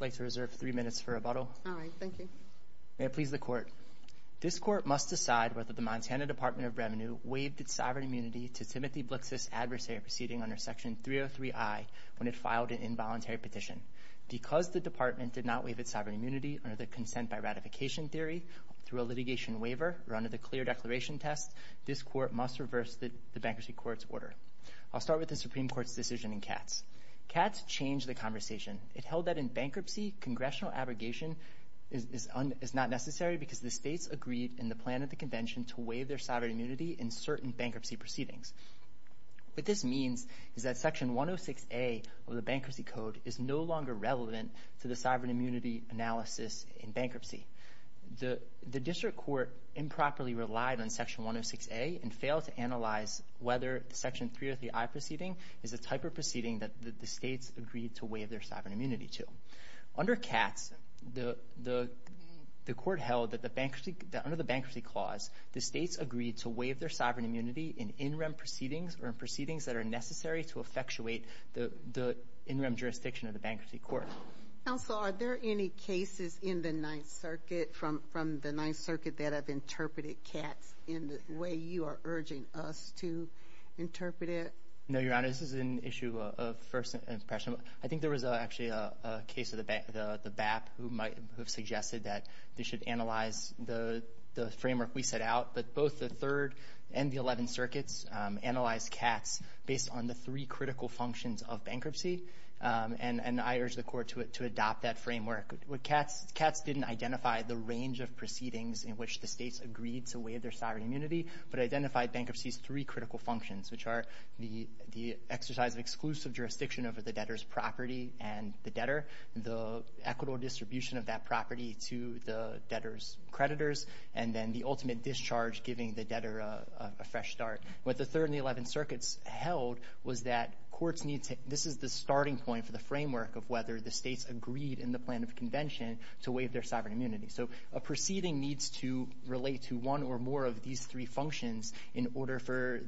May I please the court? This court must decide whether the Montana Department of Revenue waived its sovereign immunity to Timothy Blixseth's adversary proceeding under Section 303I when it filed an involuntary petition. Because the department did not waive its sovereign immunity under the consent by ratification theory through a litigation waiver or under the clear declaration test, this court must reverse the bankruptcy court's order. I'll Katz changed the conversation. It held that in bankruptcy, congressional abrogation is not necessary because the states agreed in the plan of the convention to waive their sovereign immunity in certain bankruptcy proceedings. What this means is that Section 106A of the bankruptcy code is no longer relevant to the sovereign immunity analysis in bankruptcy. The district court improperly relied on Section 106A and failed to analyze whether the Section 303I proceeding is the type of proceeding that the states agreed to waive their sovereign immunity to. Under Katz, the court held that under the bankruptcy clause, the states agreed to waive their sovereign immunity in in-rem proceedings or in proceedings that are necessary to effectuate the in-rem jurisdiction of the bankruptcy court. Counsel, are there any cases in the 9th Circuit from the 9th Circuit that have interpreted Katz in the way you are urging us to interpret it? No, Your Honor. This is an issue of first impression. I think there was actually a case of the BAP who might have suggested that they should analyze the framework we set out, but both the 3rd and the 11th Circuits analyzed Katz based on the three critical functions of bankruptcy, and I urge the court to adopt that framework. Katz didn't identify the range of proceedings in which the states agreed to waive their sovereign immunity, but identified bankruptcy's three critical functions, which are the exercise of exclusive jurisdiction over the debtor's property and the debtor, the equitable distribution of that property to the debtor's creditors, and then the ultimate discharge giving the debtor a fresh start. What the 3rd and the 11th Circuits held was that courts need to – this is the starting point for the framework of whether the states agreed in the plan of convention to waive their sovereign immunity. So a proceeding needs to relate to one or more of these three functions in order for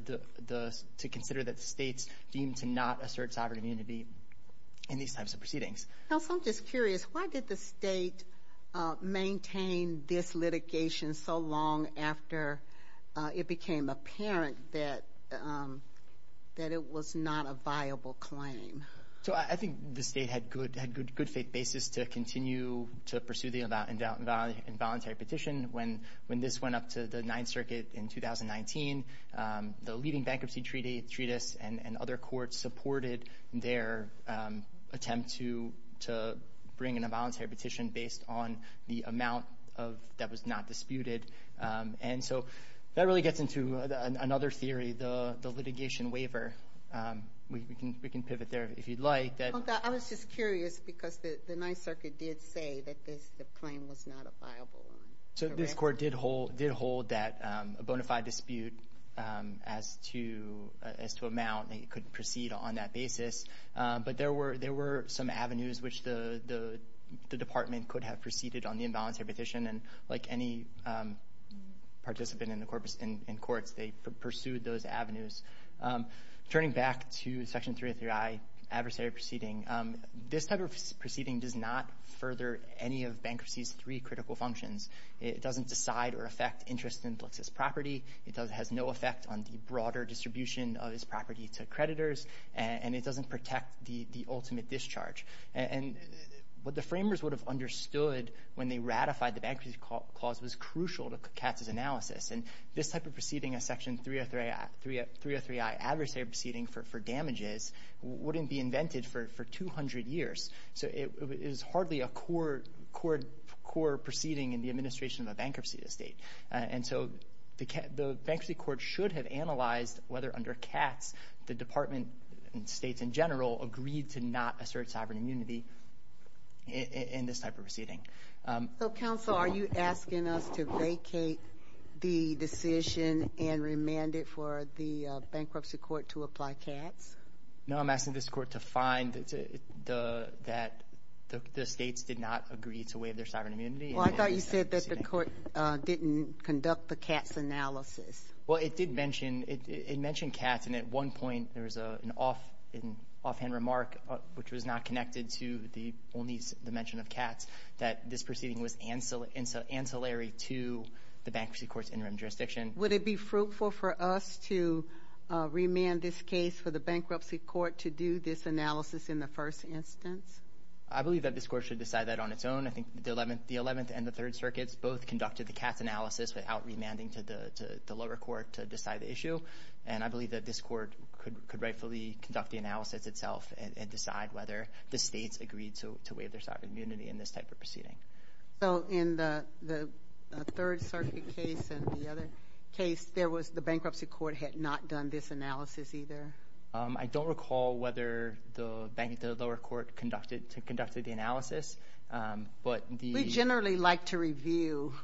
the – to consider that the states deemed to not assert sovereign immunity in these types of proceedings. Counsel, I'm just curious. Why did the state maintain this litigation so long after it became apparent that it was not a viable claim? So I think the state had good faith basis to continue to pursue the involuntary petition when this went up to the 9th Circuit in 2019. The leading bankruptcy treatise and other courts supported their attempt to bring in a voluntary petition based on the amount that was not disputed. And so that really gets into another theory, the litigation waiver. We can pivot there if you'd like. I was just curious because the 9th Circuit did say that this claim was not a viable one. So this court did hold that a bona fide dispute as to amount, it could proceed on that basis. But there were some avenues which the department could have proceeded on the involuntary petition and like any participant in courts, they pursued those avenues. Turning back to Section 303I, adversary proceeding, this type of proceeding does not further any of bankruptcy's three critical functions. It doesn't decide or affect interest in Blix's property. It has no effect on the broader distribution of his property to creditors. And it doesn't protect the ultimate discharge. And what the framers would have understood when they ratified the bankruptcy clause was crucial to Katz's analysis. And this type of proceeding, a Section 303I adversary proceeding for damages, wouldn't be invented for 200 years. So it is hardly a core proceeding in the administration of a bankruptcy estate. And so the bankruptcy court should have analyzed whether under Katz the department and states in general agreed to not assert sovereign immunity in this type of proceeding. So, counsel, are you asking us to vacate the decision and remand it for the bankruptcy court to apply Katz? No, I'm asking this court to find that the states did not agree to waive their sovereign immunity. Well, I thought you said that the court didn't conduct the Katz analysis. Well, it did mention Katz. And at one point there was an offhand remark, which was not connected to the only mention of Katz, that this proceeding was ancillary to the bankruptcy court's interim jurisdiction. Would it be fruitful for us to remand this case for the bankruptcy court to do this analysis in the first instance? I believe that this court should decide that on its own. I think the 11th and the 3rd circuits both conducted the Katz analysis without remanding to the lower court to decide the issue. And I believe that this court could rightfully conduct the analysis itself and decide whether the states agreed to waive their sovereign immunity in this type of proceeding. So in the 3rd circuit case and the other case, there was the bankruptcy court had not done this analysis either? I don't recall whether the lower court conducted the analysis, but the— We generally like to review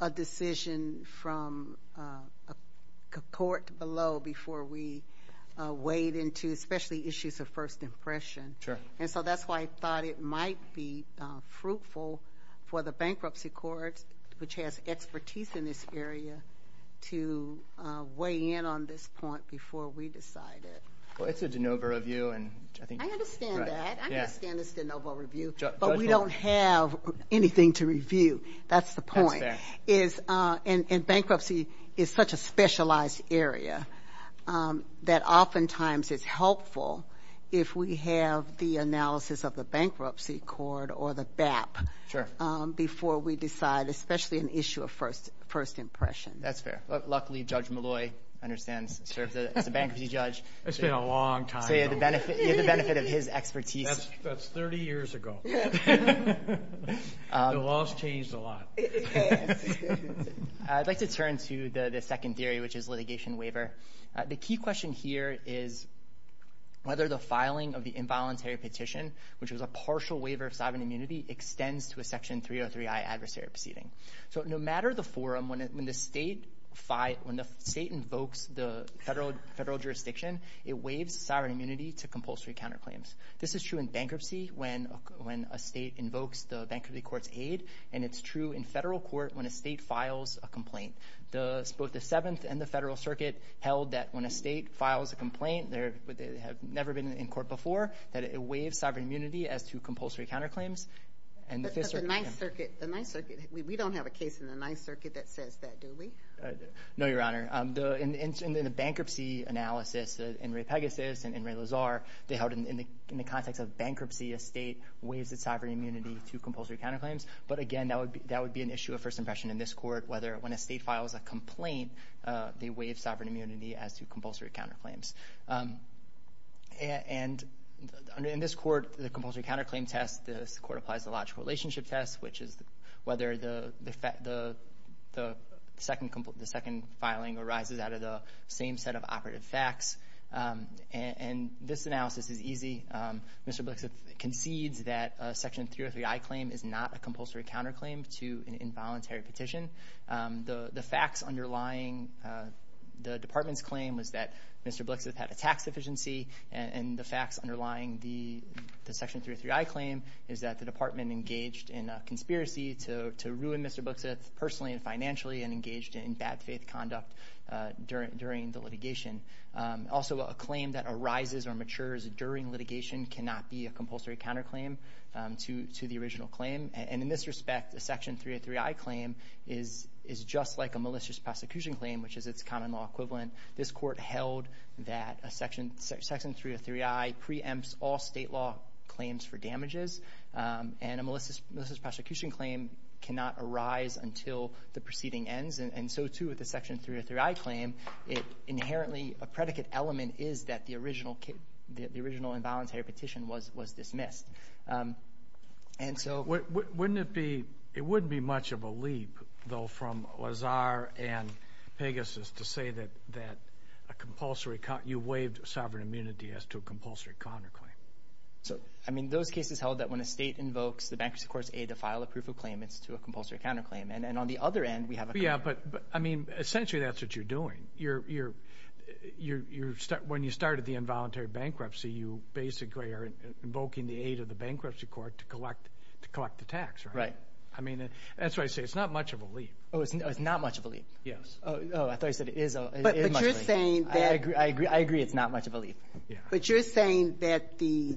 a decision from a court below before we wade into especially issues of first impression. And so that's why I thought it might be fruitful for the bankruptcy court, which has expertise in this area, to weigh in on this point before we decide it. Well, it's a de novo review, and I think— I understand that. I understand it's a de novo review, but we don't have anything to review. That's the point. And bankruptcy is such a specialized area that oftentimes it's helpful if we have the analysis of the bankruptcy court or the BAP before we decide, especially an issue of first impression. That's fair. Luckily, Judge Molloy understands. He's a bankruptcy judge. It's been a long time. So you have the benefit of his expertise. That's 30 years ago. The laws changed a lot. I'd like to turn to the second theory, which is litigation waiver. The key question here is whether the filing of the involuntary petition, which was a partial waiver of sovereign immunity, extends to a Section 303i adversary proceeding. So no matter the forum, when the state invokes the federal jurisdiction, it waives sovereign immunity to compulsory counterclaims. This is true in bankruptcy when a state invokes the bankruptcy court's aid, and it's true in federal court when a state files a complaint. Both the Seventh and the Federal Circuit held that when a state files a complaint, they have never been in court before, that it waives sovereign immunity as to compulsory counterclaims. But the Ninth Circuit—we don't have a case in the Ninth Circuit that says that, do we? No, Your Honor. In the bankruptcy analysis, in Ray Pegasus and in Ray Lazar, they held in the context of bankruptcy, a state waives its sovereign immunity to compulsory counterclaims. But again, that would be an issue of first impression in this court, whether when a state files a complaint, they waive sovereign immunity as to compulsory counterclaims. In this court, the compulsory counterclaim test—this court applies the logical relationship test, which is whether the second filing arises out of the same set of operative facts. And this analysis is easy. Mr. Blixith concedes that a Section 303i claim is not a compulsory counterclaim to an involuntary petition. The facts underlying the Department's claim was that Mr. Blixith had a tax deficiency, and the facts underlying the Section 303i claim is that the Department engaged in a conspiracy to ruin Mr. Blixith personally and financially, and engaged in bad faith conduct during the litigation. Also, a claim that arises or matures during litigation cannot be a compulsory counterclaim to the original claim. And in this respect, a Section 303i claim is just like a malicious prosecution claim, which is its common law equivalent. This court held that a Section 303i preempts all state law claims for damages, and a malicious prosecution claim cannot arise until the proceeding ends. And so, too, with the Section 303i claim, it inherently—a predicate element is that the original involuntary petition was dismissed. And so— Wouldn't it be—it wouldn't be much of a leap, though, from Lazar and Pegasus to say that a compulsory—you waived sovereign immunity as to a compulsory counterclaim. So, I mean, those cases held that when a state invokes the bankruptcy court's aid to file a proof of claim, it's to a compulsory counterclaim. And on the other end, we have a— Yeah, but, I mean, essentially that's what you're doing. When you started the involuntary bankruptcy, you basically are invoking the aid of the tax, right? Right. I mean, that's what I say. It's not much of a leap. Oh, it's not much of a leap? Yes. Oh, I thought you said it is a— But you're saying that— I agree. I agree it's not much of a leap. Yeah. But you're saying that the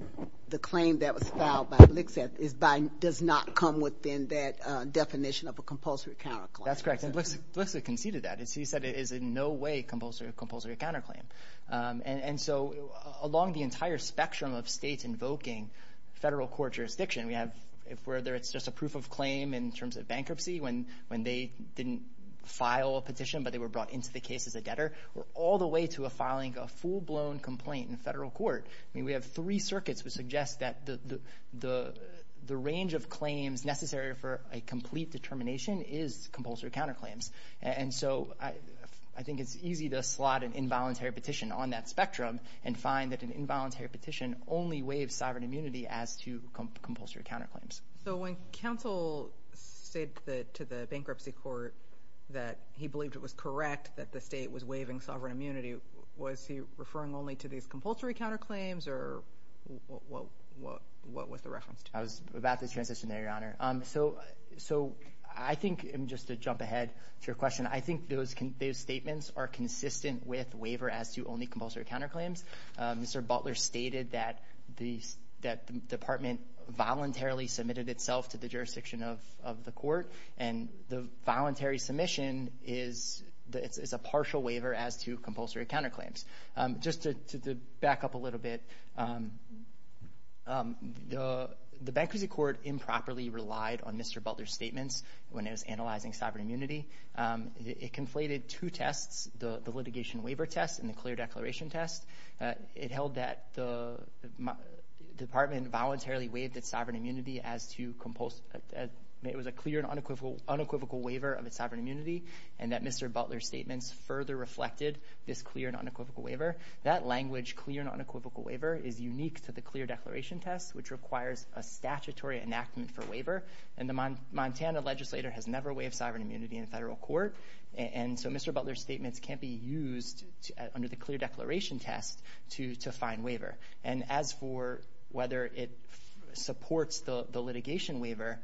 claim that was filed by Lixeth is by—does not come within that definition of a compulsory counterclaim. That's correct. And Lixeth conceded that. He said it is in no way a compulsory counterclaim. And so, along the entire spectrum of states invoking federal court jurisdiction, we have—if whether it's just a proof of claim in terms of bankruptcy, when they didn't file a petition but they were brought into the case as a debtor, or all the way to a filing a full-blown complaint in federal court. I mean, we have three circuits which suggest that the range of claims necessary for a complete determination is compulsory counterclaims. And so, I think it's easy to slot an involuntary petition on that spectrum and find that an involuntary petition only waives sovereign immunity as to compulsory counterclaims. So, when counsel said to the bankruptcy court that he believed it was correct that the state was waiving sovereign immunity, was he referring only to these compulsory counterclaims, or what was the reference to? I was about to transition there, Your Honor. So, I think—and just to jump ahead to your question—I think those statements are consistent with waiver as to only compulsory counterclaims. Mr. Butler stated that the department voluntarily submitted itself to the jurisdiction of the court, and the voluntary submission is a partial waiver as to compulsory counterclaims. Just to back up a little bit, the bankruptcy court improperly relied on Mr. Butler's statements when it was analyzing sovereign immunity. It conflated two tests, the litigation waiver test and the clear declaration test. It held that the department voluntarily waived its sovereign immunity as to—it was a clear and unequivocal waiver of its sovereign immunity, and that Mr. Butler's statements further reflected this clear and unequivocal waiver. That language, clear and unequivocal waiver, is unique to the clear declaration test, which requires a statutory enactment for waiver, and the Montana legislator has never waived sovereign immunity in a federal court, and so Mr. Butler's statements can't be used under the clear declaration test to find waiver. And as for whether it supports the litigation waiver,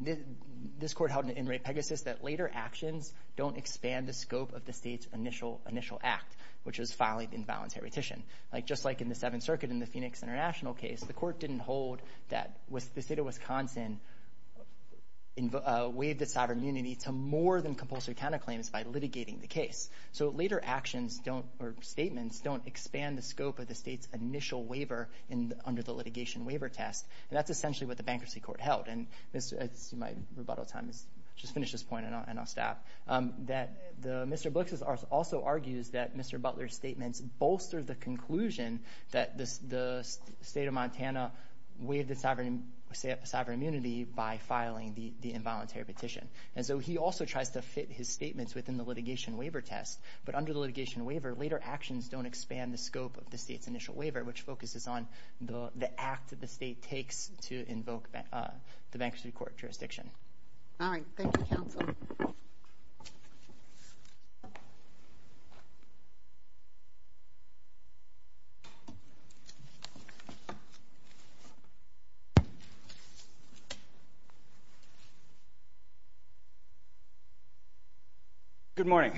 this court held in Ray Pegasus that later actions don't expand the scope of the state's initial act, which is filing invalid heritation. Like, just like in the Seventh Circuit in the Phoenix International case, the court to more than compulsory counterclaims by litigating the case. So later actions don't—or statements don't expand the scope of the state's initial waiver under the litigation waiver test, and that's essentially what the Bankruptcy Court held. And my rebuttal time is—just finish this point and I'll stop—that Mr. Blix's also argues that Mr. Butler's statements bolster the conclusion that the state of Montana waived the sovereign immunity by filing the involuntary petition. And so he also tries to fit his statements within the litigation waiver test, but under the litigation waiver, later actions don't expand the scope of the state's initial waiver, which focuses on the act that the state takes to invoke the Bankruptcy Court jurisdiction. All right. Thank you, counsel. Good morning.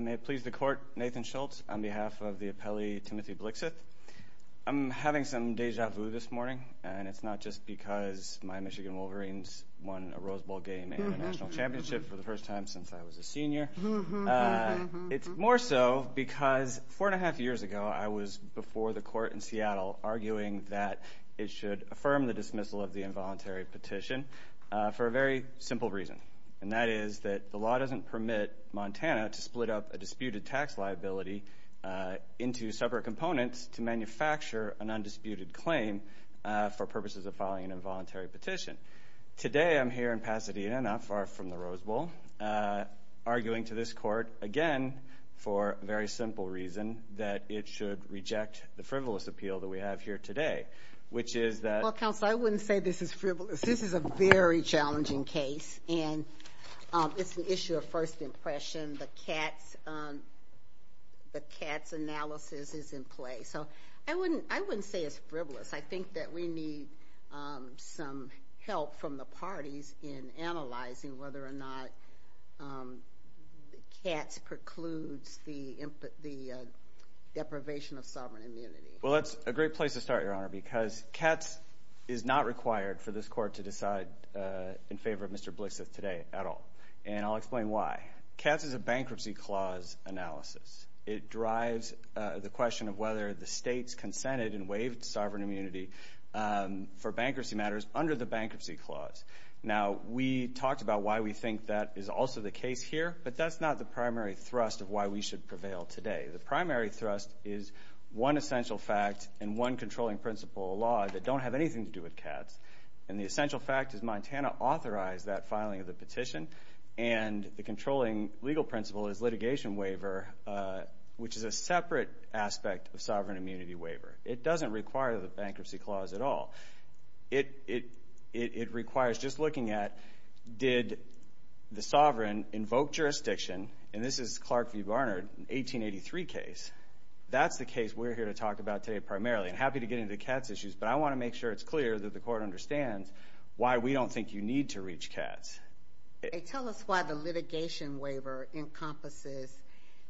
May it please the Court, Nathan Schultz, on behalf of the appellee, Timothy Blixeth. I'm having some deja vu this morning, and it's not just because my Michigan Wolverines won a Rose Bowl game and a national championship for the first time since I was a senior. It's more so because four and a half years ago, I was before the Court in Seattle arguing that it should affirm the dismissal of the involuntary petition for a very simple reason, and that is that the law doesn't permit Montana to split up a disputed tax liability into separate components to manufacture an undisputed claim for purposes of filing an involuntary petition. Today, I'm here in Pasadena, not far from the Rose Bowl, arguing to this Court again for a very simple reason, that it should reject the frivolous appeal that we have here today, which is that— Well, counsel, I wouldn't say this is frivolous. This is a very challenging case, and it's an issue of first impression. The CATS analysis is in play, so I wouldn't say it's frivolous. I think that we need some help from the parties in analyzing whether or not CATS precludes the deprivation of sovereign immunity. Well, that's a great place to start, Your Honor, because CATS is not required for this Court to decide in favor of Mr. Blixith today at all, and I'll explain why. CATS is a bankruptcy clause analysis. It drives the question of whether the states consented and waived sovereign immunity for bankruptcy matters under the bankruptcy clause. Now, we talked about why we think that is also the case here, but that's not the primary thrust of why we should prevail today. The primary thrust is one essential fact and one controlling principle of law that don't have anything to do with CATS, and the essential fact is Montana authorized that filing of which is a separate aspect of sovereign immunity waiver. It doesn't require the bankruptcy clause at all. It requires just looking at did the sovereign invoke jurisdiction, and this is Clark v. Barnard, 1883 case. That's the case we're here to talk about today primarily. I'm happy to get into CATS issues, but I want to make sure it's clear that the Court understands why we don't think you need to reach CATS. Tell us why the litigation waiver encompasses,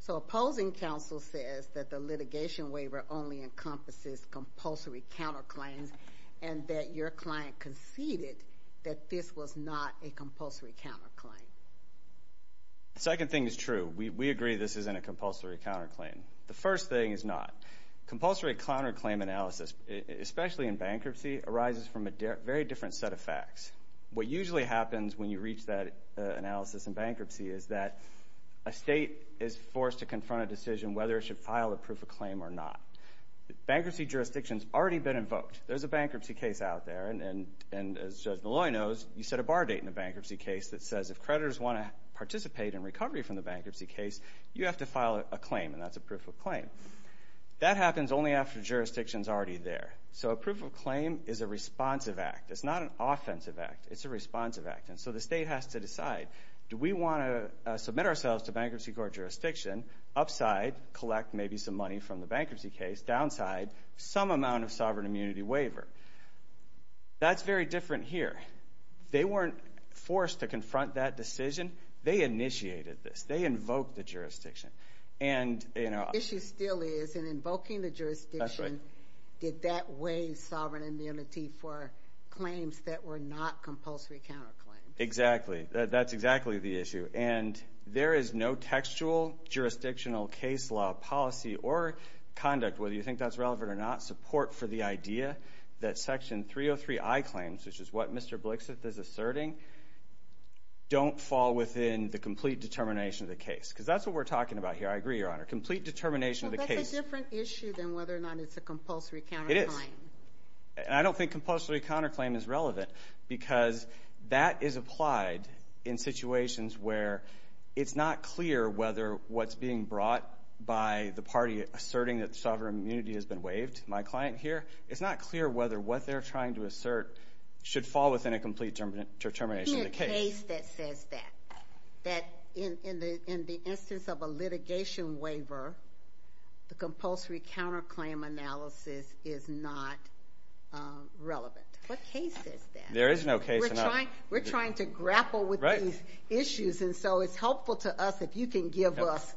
so opposing counsel says that the litigation waiver only encompasses compulsory counterclaims and that your client conceded that this was not a compulsory counterclaim. The second thing is true. We agree this isn't a compulsory counterclaim. The first thing is not. Compulsory counterclaim analysis, especially in bankruptcy, arises from a very different set of facts. What usually happens when you reach that analysis in bankruptcy is that a state is forced to confront a decision whether it should file a proof of claim or not. Bankruptcy jurisdiction's already been invoked. There's a bankruptcy case out there, and as Judge Malloy knows, you set a bar date in a bankruptcy case that says if creditors want to participate in recovery from the bankruptcy case, you have to file a claim, and that's a proof of claim. That happens only after jurisdiction's already there. So a proof of claim is a responsive act. It's not an offensive act. It's a responsive act. And so the state has to decide, do we want to submit ourselves to bankruptcy court jurisdiction, upside, collect maybe some money from the bankruptcy case, downside, some amount of sovereign immunity waiver? That's very different here. They weren't forced to confront that decision. They initiated this. They invoked the jurisdiction. The issue still is, in invoking the jurisdiction, did that waive sovereign immunity for claims that were not compulsory counterclaims? Exactly. That's exactly the issue. And there is no textual jurisdictional case law policy or conduct, whether you think that's relevant or not, support for the idea that Section 303i claims, which is what Mr. Blixith is asserting, don't fall within the complete determination of the case. Because that's what we're talking about here. I agree, Your Honor. Complete determination of the case. Well, that's a different issue than whether or not it's a compulsory counterclaim. It is. And I don't think compulsory counterclaim is relevant, because that is applied in situations where it's not clear whether what's being brought by the party asserting that sovereign immunity has been waived, my client here, it's not clear whether what they're trying to assert should fall within a complete determination of the case. What case says that, that in the instance of a litigation waiver, the compulsory counterclaim analysis is not relevant? What case says that? There is no case. We're trying to grapple with these issues, and so it's helpful to us if you can give us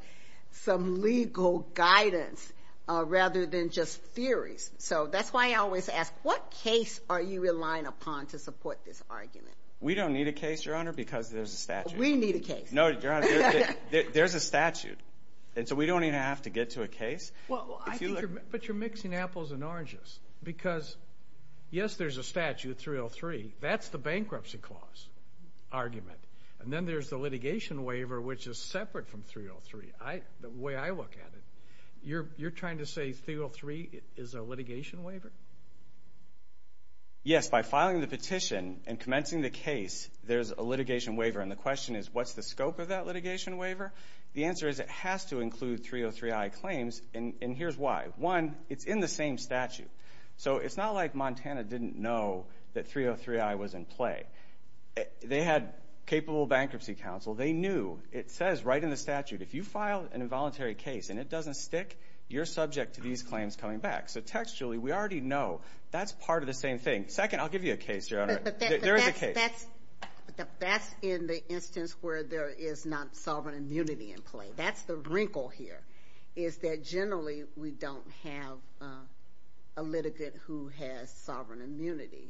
some legal guidance rather than just theories. So that's why I always ask, what case are you relying upon to support this argument? We don't need a case, Your Honor, because there's a statute. We need a case. No, Your Honor, there's a statute, and so we don't even have to get to a case. But you're mixing apples and oranges, because, yes, there's a statute, 303. That's the bankruptcy clause argument. And then there's the litigation waiver, which is separate from 303, the way I look at it. You're trying to say 303 is a litigation waiver? Yes, by filing the petition and commencing the case, there's a litigation waiver, and the question is, what's the scope of that litigation waiver? The answer is, it has to include 303i claims, and here's why. One, it's in the same statute. So it's not like Montana didn't know that 303i was in play. They had capable bankruptcy counsel. They knew. It says right in the statute, if you file an involuntary case and it doesn't stick, you're subject to these claims coming back. So textually, we already know. That's part of the same thing. Second, I'll give you a case, Your Honor. There is a case. But that's in the instance where there is not sovereign immunity in play. That's the wrinkle here, is that generally we don't have a litigant who has sovereign immunity.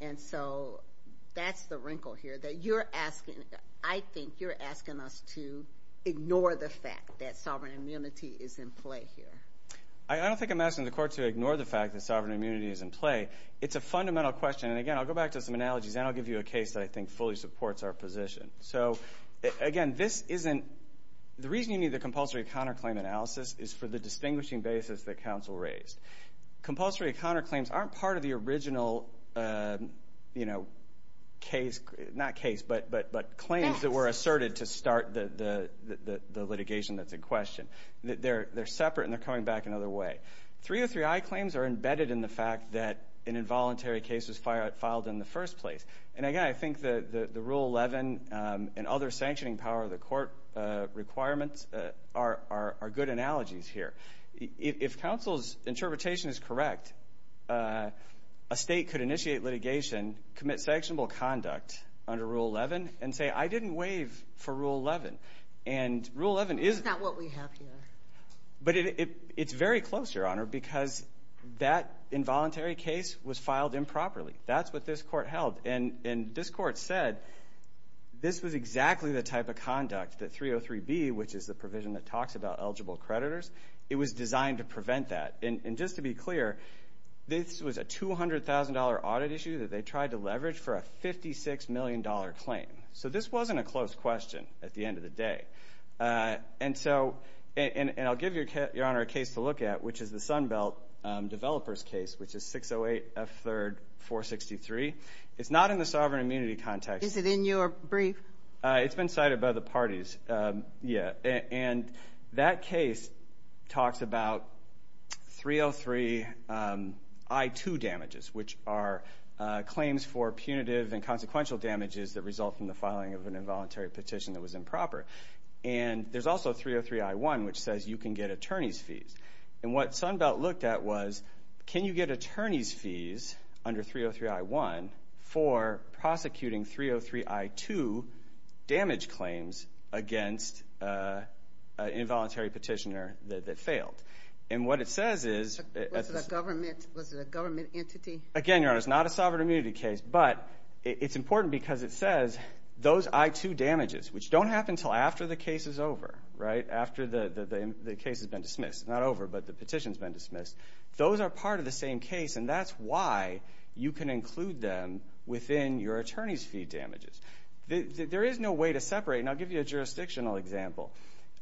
And so that's the wrinkle here, that you're asking, I think you're asking us to ignore the fact that sovereign immunity is in play here. I don't think I'm asking the court to ignore the fact that sovereign immunity is in play. It's a fundamental question. And again, I'll go back to some analogies, and I'll give you a case that I think fully supports our position. So again, the reason you need the compulsory counterclaim analysis is for the distinguishing basis that counsel raised. Compulsory counterclaims aren't part of the original case, not case, but claims that were asserted to start the litigation that's in question. They're separate, and they're coming back another way. 303i claims are embedded in the fact that an involuntary case was filed in the first place. And again, I think the Rule 11 and other sanctioning power of the court requirements are good analogies here. If counsel's interpretation is correct, a state could initiate litigation, commit sanctionable conduct under Rule 11, and say, I didn't waive for Rule 11. And Rule 11 is... That's what we have here. But it's very close, Your Honor, because that involuntary case was filed improperly. That's what this court held. And this court said this was exactly the type of conduct that 303b, which is the provision that talks about eligible creditors, it was designed to prevent that. And just to be clear, this was a $200,000 audit issue that they tried to leverage for a $56 million claim. So this wasn't a close question at the end of the day. And so, and I'll give Your Honor a case to look at, which is the Sunbelt Developers case, which is 608f3rd463. It's not in the sovereign immunity context. Is it in your brief? It's been cited by the parties, yeah. And that case talks about 303i2 damages, which are claims for punitive and consequential damages that result from the filing of an involuntary petition that was improper. And there's also 303i1, which says you can get attorney's fees. And what Sunbelt looked at was, can you get attorney's fees under 303i1 for prosecuting 303i2 damage claims against an involuntary petitioner that failed? And what it says is... Was it a government entity? Again, Your Honor, it's not a sovereign immunity case. But it's important because it says those i2 damages, which don't happen until after the case is over, right? After the case has been dismissed. Not over, but the petition's been dismissed. Those are part of the same case, and that's why you can include them within your attorney's fee damages. There is no way to separate. And I'll give you a jurisdictional example.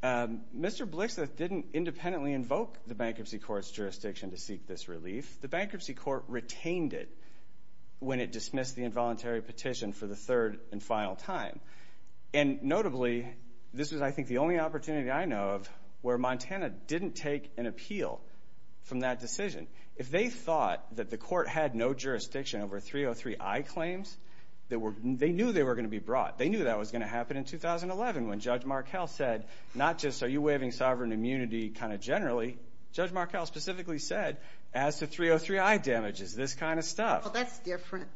Mr. Blixith didn't independently invoke the Bankruptcy Court's jurisdiction to seek this relief. The Bankruptcy Court retained it when it dismissed the involuntary petition for the third and final time. And notably, this was, I think, the only opportunity I know of where Montana didn't take an appeal from that decision. If they thought that the court had no jurisdiction over 303i claims, they knew they were going to be brought. They knew that was going to happen in 2011 when Judge Markell said, not just, are you waiving sovereign immunity kind of generally? Judge Markell specifically said, as to 303i damages, this kind of stuff. Well, that's different.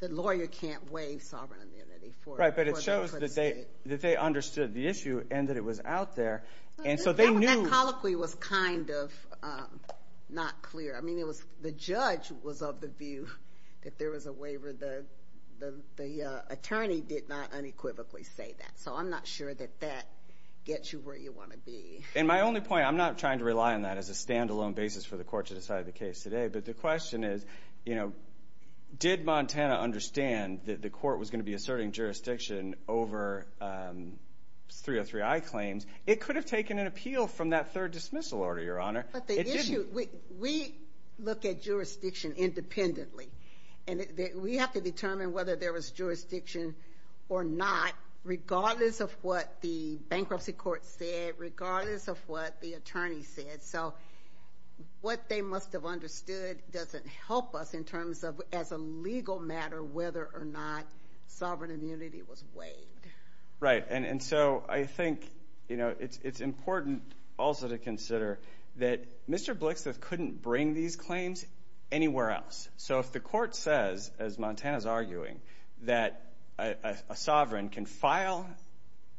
The lawyer can't waive sovereign immunity for the court of state. Right, but it shows that they understood the issue and that it was out there. And so they knew. That colloquy was kind of not clear. I mean, the judge was of the view that there was a waiver. The attorney did not unequivocally say that, so I'm not sure that that gets you where you want to be. And my only point, I'm not trying to rely on that as a standalone basis for the court to decide the case today, but the question is, you know, did Montana understand that the court was going to be asserting jurisdiction over 303i claims? It could have taken an appeal from that third dismissal order, Your Honor. But the issue, we look at jurisdiction independently, and we have to determine whether there was a waiver. And the bankruptcy court said, regardless of what the attorney said, so what they must have understood doesn't help us in terms of, as a legal matter, whether or not sovereign immunity was waived. Right, and so I think, you know, it's important also to consider that Mr. Blixthof couldn't bring these claims anywhere else. So if the court says, as Montana's arguing, that a sovereign can file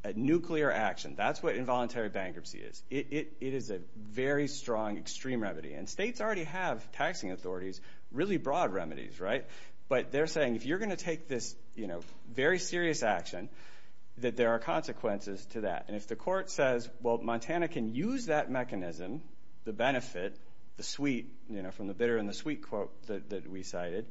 a nuclear action, that's what involuntary bankruptcy is. It is a very strong, extreme remedy. And states already have, taxing authorities, really broad remedies, right? But they're saying, if you're going to take this, you know, very serious action, that there are consequences to that. And if the court says, well, Montana can use that mechanism, the benefit, the sweet, you know, benefit we cited,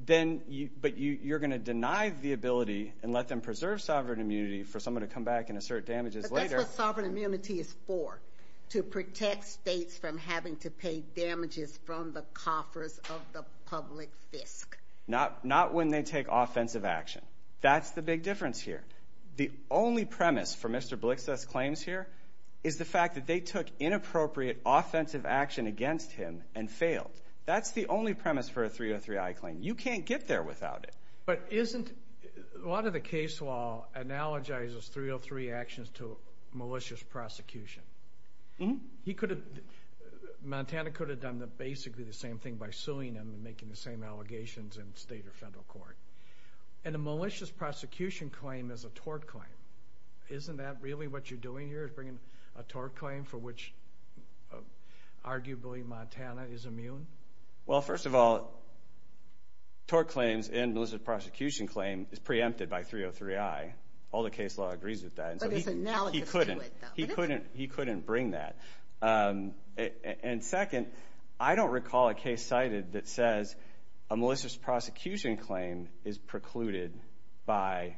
then you, but you're going to deny the ability and let them preserve sovereign immunity for someone to come back and assert damages later. But that's what sovereign immunity is for, to protect states from having to pay damages from the coffers of the public fisc. Not when they take offensive action. That's the big difference here. The only premise for Mr. Blixthof's claims here is the fact that they took inappropriate offensive action against him and failed. That's the only premise for a 303i claim. You can't get there without it. But isn't, a lot of the case law analogizes 303 actions to malicious prosecution. He could have, Montana could have done basically the same thing by suing him and making the same allegations in state or federal court. And a malicious prosecution claim is a tort claim. Isn't that really what you're doing here, bringing a tort claim for which arguably Montana is immune? Well, first of all, tort claims and malicious prosecution claim is preempted by 303i. All the case law agrees with that. But it's analogous to it, though. He couldn't bring that. And second, I don't recall a case cited that says a malicious prosecution claim is precluded by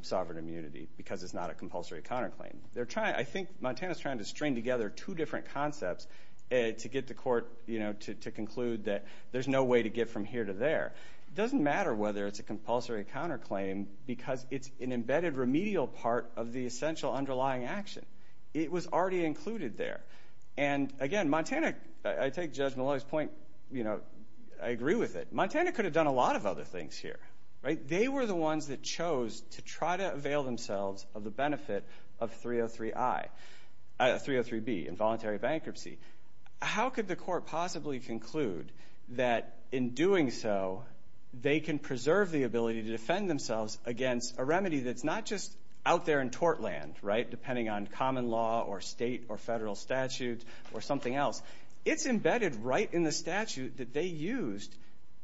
sovereign immunity because it's not a compulsory counterclaim. I think Montana's trying to string together two different concepts to get the court to conclude that there's no way to get from here to there. It doesn't matter whether it's a compulsory counterclaim because it's an embedded remedial part of the essential underlying action. It was already included there. And again, Montana, I take Judge Maloney's point, I agree with it. Montana could have done a lot of other things here. They were the ones that chose to try to avail themselves of the benefit of 303b, involuntary bankruptcy. How could the court possibly conclude that in doing so, they can preserve the ability to defend themselves against a remedy that's not just out there in tort land, depending on common law or state or federal statute or something else. It's embedded right in the statute that they used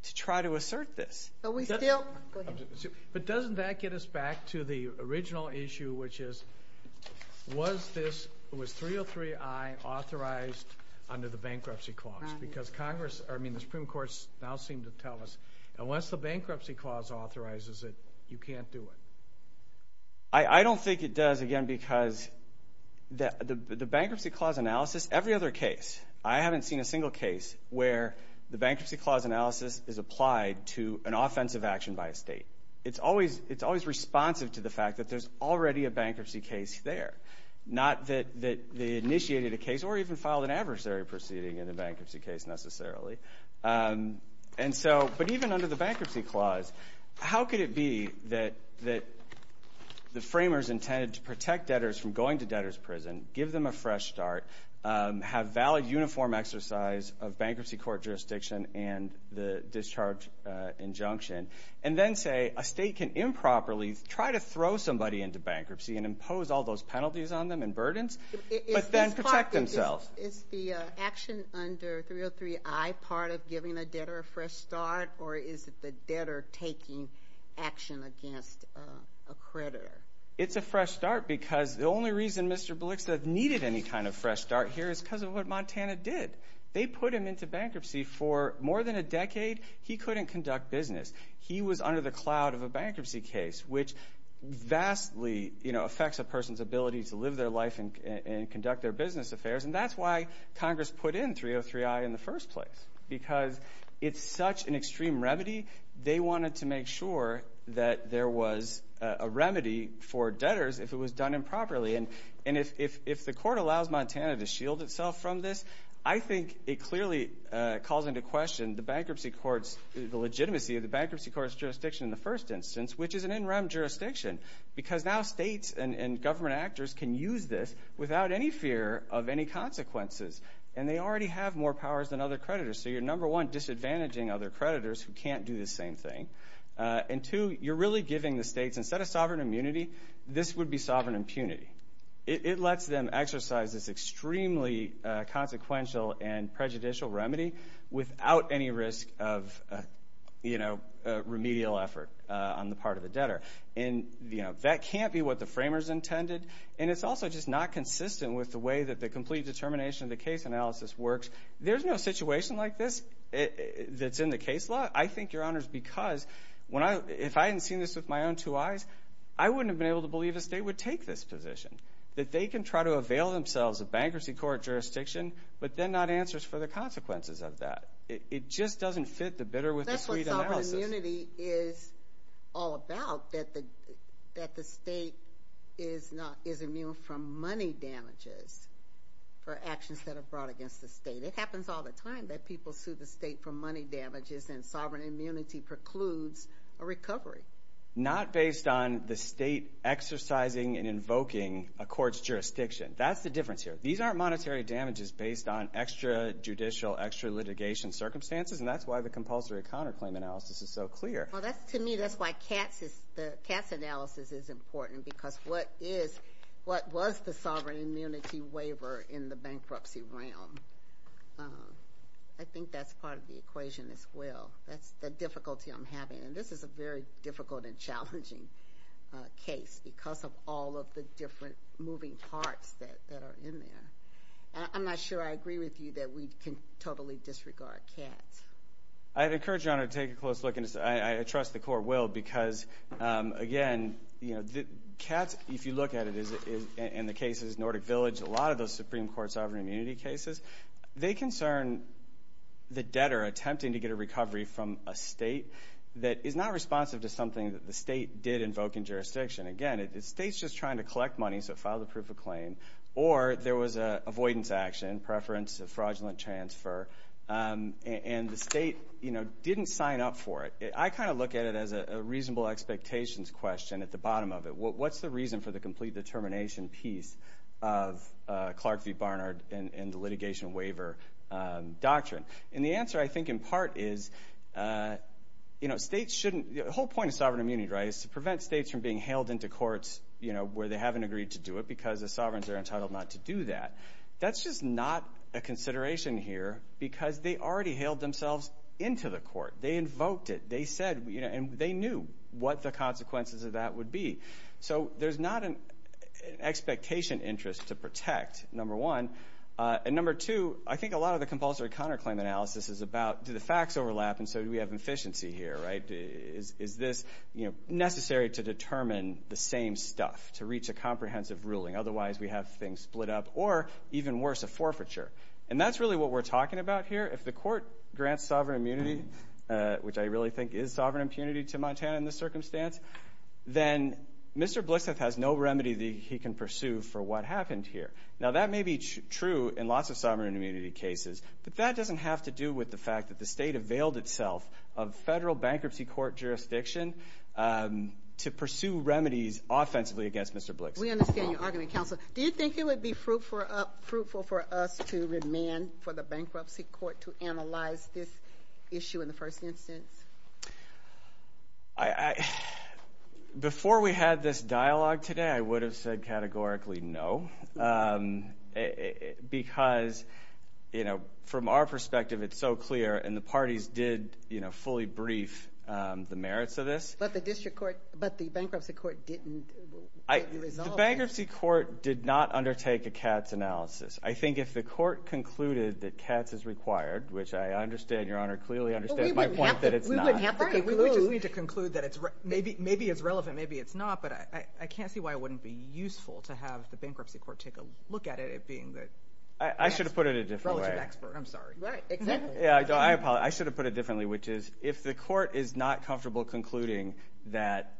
to try to assert this. But doesn't that get us back to the original issue, which is, was 303i authorized under the bankruptcy clause? Because Congress, I mean, the Supreme Court now seem to tell us, unless the bankruptcy clause authorizes it, you can't do it. I don't think it does, again, because the bankruptcy clause analysis, every other case, I haven't seen a single case where the bankruptcy clause analysis is applied to an offensive action by a state. It's always responsive to the fact that there's already a bankruptcy case there. Not that they initiated a case or even filed an adversary proceeding in the bankruptcy case, necessarily. And so, but even under the bankruptcy clause, how could it be that the framers intended to protect debtors from going to debtor's prison, give them a fresh start, have valid uniform exercise of bankruptcy court jurisdiction and the discharge injunction, and then say a state can improperly try to throw somebody into bankruptcy and impose all those penalties on them and burdens, but then protect themselves? Is the action under 303i part of giving a debtor a fresh start, or is it the debtor taking action against a creditor? It's a fresh start because the only reason Mr. Blixted needed any kind of fresh start here is because of what Montana did. They put him into bankruptcy for more than a decade. He couldn't conduct business. He was under the cloud of a bankruptcy case, which vastly, you know, affects a person's ability to live their life and conduct their business affairs, and that's why Congress put in 303i in the first place, because it's such an extreme remedy, they wanted to make sure that there was a remedy for debtors if it was done improperly, and if the court allows Montana to shield itself from this, I think it clearly calls into question the bankruptcy court's, the legitimacy of the bankruptcy court's jurisdiction in the first instance, which is an in-rem jurisdiction, because now states and government actors can use this without any fear of any consequences, and they already have more powers than other creditors, so you're number one, disadvantaging other creditors who can't do the same thing, and two, you're really giving the states, instead of sovereign immunity, this would be sovereign impunity. It lets them exercise this extremely consequential and prejudicial remedy without any risk of, you know, remedial effort on the part of the debtor, and, you know, that can't be what the framers intended, and it's also just not consistent with the way that the complete determination of the case analysis works. There's no situation like this that's in the case law. I think, Your Honors, because when I, if I hadn't seen this with my own two eyes, I wouldn't have been able to believe a state would take this position, that they can try to avail themselves of bankruptcy court jurisdiction, but then not answers for the consequences of that. It just doesn't fit the bidder with the suite analysis. That's what sovereign immunity is all about, that the state is immune from money damages for actions that are brought against the state. It happens all the time that people sue the state for money damages, and sovereign immunity precludes a recovery. Not based on the state exercising and invoking a court's jurisdiction. That's the difference here. These aren't monetary damages based on extra-judicial, extra-litigation circumstances, and that's why the compulsory counterclaim analysis is so clear. Well, that's, to me, that's why Katz's, the Katz analysis is important, because what is, what's the sovereign immunity waiver in the bankruptcy realm? I think that's part of the equation as well. That's the difficulty I'm having, and this is a very difficult and challenging case, because of all of the different moving parts that are in there. I'm not sure I agree with you that we can totally disregard Katz. I'd encourage you all to take a close look, and I trust the court will, because, again, Katz, if you look at it, and the cases, Nordic Village, a lot of those Supreme Court sovereign immunity cases, they concern the debtor attempting to get a recovery from a state that is not responsive to something that the state did invoke in jurisdiction. Again, the state's just trying to collect money, so file the proof of claim, or there was an avoidance action, preference of fraudulent transfer, and the state didn't sign up for it. I kind of look at it as a reasonable expectations question at the bottom of it. What's the reason for the complete determination piece of Clark v. Barnard and the litigation waiver doctrine? And the answer, I think, in part is, you know, states shouldn't, the whole point of sovereign immunity, right, is to prevent states from being hailed into courts, you know, where they haven't agreed to do it, because the sovereigns are entitled not to do that. That's just not a consideration here, because they already hailed themselves into the court. They invoked it. They said, you know, and they knew what the consequences of that would be. So there's not an expectation interest to protect, number one, and number two, I think a lot of the compulsory counterclaim analysis is about, do the facts overlap, and so do we have efficiency here, right? Is this, you know, necessary to determine the same stuff, to reach a comprehensive ruling? Otherwise we have things split up, or even worse, a forfeiture. And that's really what we're talking about here. If the court grants sovereign immunity, which I really think is sovereign impunity to Montana in this circumstance, then Mr. Blixeth has no remedy that he can pursue for what happened here. Now that may be true in lots of sovereign immunity cases, but that doesn't have to do with the fact that the state availed itself of federal bankruptcy court jurisdiction to pursue remedies offensively against Mr. Blixeth. We understand your argument, counsel. Do you think it would be fruitful for us to remand for the bankruptcy court to analyze this issue in the first instance? Before we had this dialogue today, I would have said categorically no, because, you know, from our perspective, it's so clear, and the parties did, you know, fully brief the merits of this. But the district court, but the bankruptcy court didn't resolve this. The bankruptcy court did not undertake a CATS analysis. I think if the court concluded that CATS is required, which I understand, Your Honor, clearly understands my point that it's not. We wouldn't have to. We wouldn't have to. We would just need to conclude that maybe it's relevant, maybe it's not, but I can't see why it wouldn't be useful to have the bankruptcy court take a look at it as being the relative expert. I should have put it a different way. I'm sorry. Right. Exactly. Yeah, I should have put it differently, which is if the court is not comfortable concluding that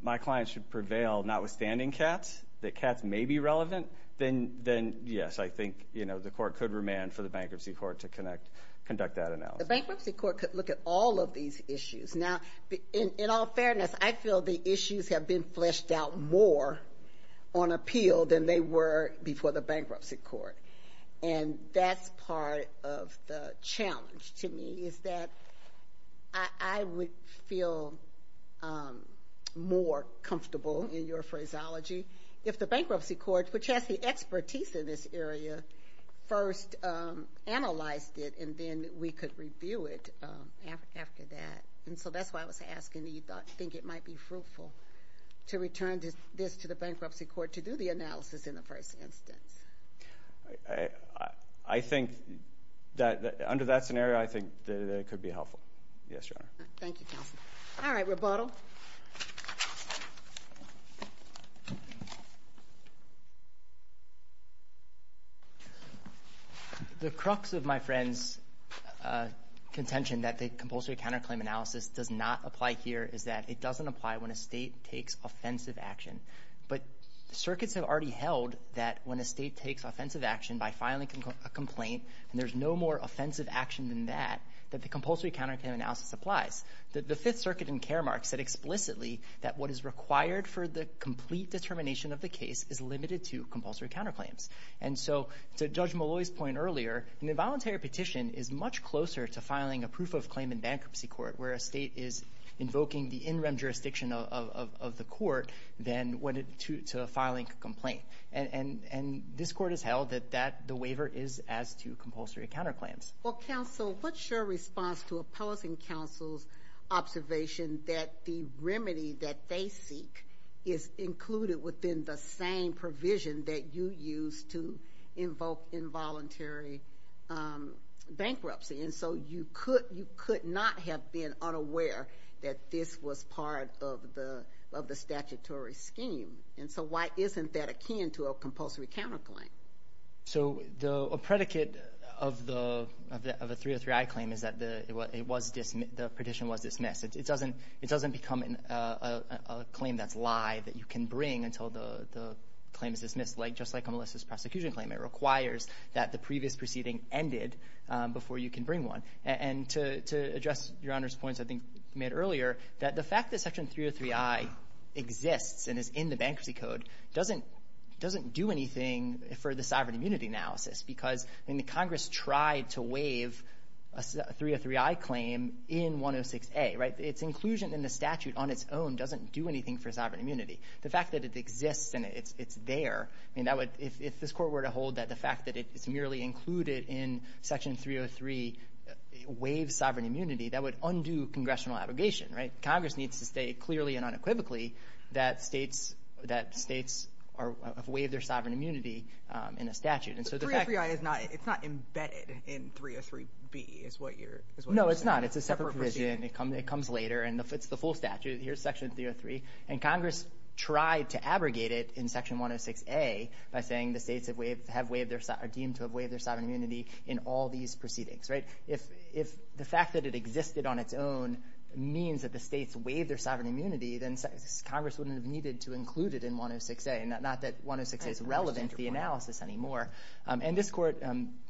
my client should prevail notwithstanding CATS, that CATS may be relevant, then yes, I think, you know, the court could remand for the bankruptcy court to conduct that analysis. The bankruptcy court could look at all of these issues. Now, in all fairness, I feel the issues have been fleshed out more on appeal than they were before the bankruptcy court, and that's part of the challenge to me is that I would feel more comfortable in your phraseology if the bankruptcy court, which has the expertise in this area, first analyzed it, and then we could review it after that, and so that's why I was asking that you think it might be fruitful to return this to the bankruptcy court to do the analysis in the first instance. I think that under that scenario, I think that it could be helpful. Yes, Your Honor. Thank you, counsel. All right, rebuttal. The crux of my friend's contention that the compulsory counterclaim analysis does not apply here is that it doesn't apply when a state takes offensive action, but circuits have already held that when a state takes offensive action by filing a complaint, and there's no more offensive action than that, that the compulsory counterclaim analysis applies. The Fifth Circuit in Karamark said explicitly that what is required for the complete determination of the case is limited to compulsory counterclaims. And so to Judge Molloy's point earlier, an involuntary petition is much closer to filing a proof of claim in bankruptcy court, where a state is invoking the in-rem jurisdiction of the court than to filing a complaint, and this court has held that the waiver is as close to compulsory counterclaims. Well, counsel, what's your response to opposing counsel's observation that the remedy that they seek is included within the same provision that you use to invoke involuntary bankruptcy? And so you could not have been unaware that this was part of the statutory scheme. And so why isn't that akin to a compulsory counterclaim? So a predicate of a 303i claim is that the petition was dismissed. It doesn't become a claim that's live that you can bring until the claim is dismissed. Just like a malicious prosecution claim, it requires that the previous proceeding ended before you can bring one. And to address Your Honor's points I think made earlier, that the fact that Section 303i exists and is in the Bankruptcy Code doesn't do anything for the sovereign immunity analysis because Congress tried to waive a 303i claim in 106a. Its inclusion in the statute on its own doesn't do anything for sovereign immunity. The fact that it exists and it's there, if this court were to hold that the fact that it's merely included in Section 303 waives sovereign immunity, that would undo congressional abrogation. Congress needs to state clearly and unequivocally that states have waived their sovereign immunity in a statute. But 303i is not embedded in 303b is what you're saying. No it's not. It's a separate provision. It comes later. It's the full statute. Here's Section 303. And Congress tried to abrogate it in Section 106a by saying the states are deemed to have waived their sovereign immunity in all these proceedings. If the fact that it existed on its own means that the states waive their sovereign immunity, then Congress wouldn't have needed to include it in 106a. Not that 106a is relevant to the analysis anymore. And this court,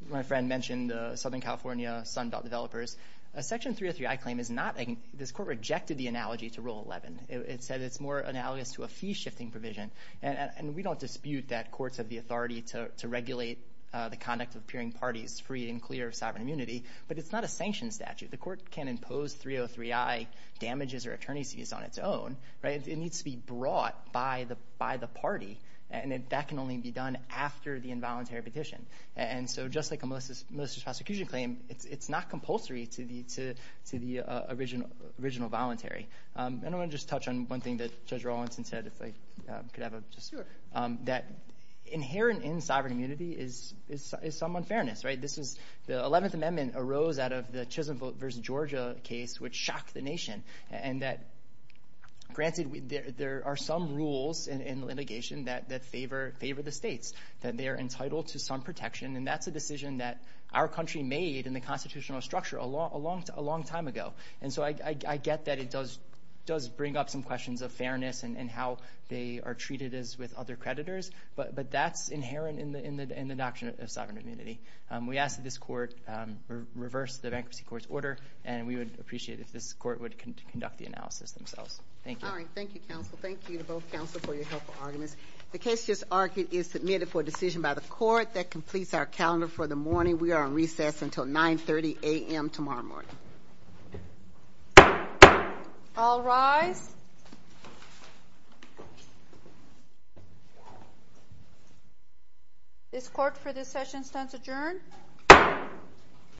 my friend mentioned Southern California Sunbelt Developers. Section 303i claim is not, this court rejected the analogy to Rule 11. It said it's more analogous to a fee-shifting provision. And we don't dispute that courts have the authority to regulate the conduct of peering of sovereign immunity. But it's not a sanctioned statute. The court can't impose 303i damages or attorney's fees on its own. It needs to be brought by the party. And that can only be done after the involuntary petition. And so just like a malicious prosecution claim, it's not compulsory to the original voluntary. And I want to just touch on one thing that Judge Rawlinson said, if I could have it. That inherent in sovereign immunity is some unfairness. The 11th Amendment arose out of the Chisholm v. Georgia case, which shocked the nation. And granted, there are some rules in litigation that favor the states, that they are entitled to some protection. And that's a decision that our country made in the constitutional structure a long time ago. And so I get that it does bring up some questions of fairness and how they are treated as with other creditors. But that's inherent in the doctrine of sovereign immunity. We ask that this court reverse the Bankruptcy Court's order. And we would appreciate if this court would conduct the analysis themselves. Thank you. All right. Thank you, counsel. Thank you to both counsel for your helpful arguments. The case just argued is submitted for a decision by the court that completes our calendar for the morning. We are on recess until 9.30 a.m. tomorrow morning. All rise. This court for this session stands adjourned.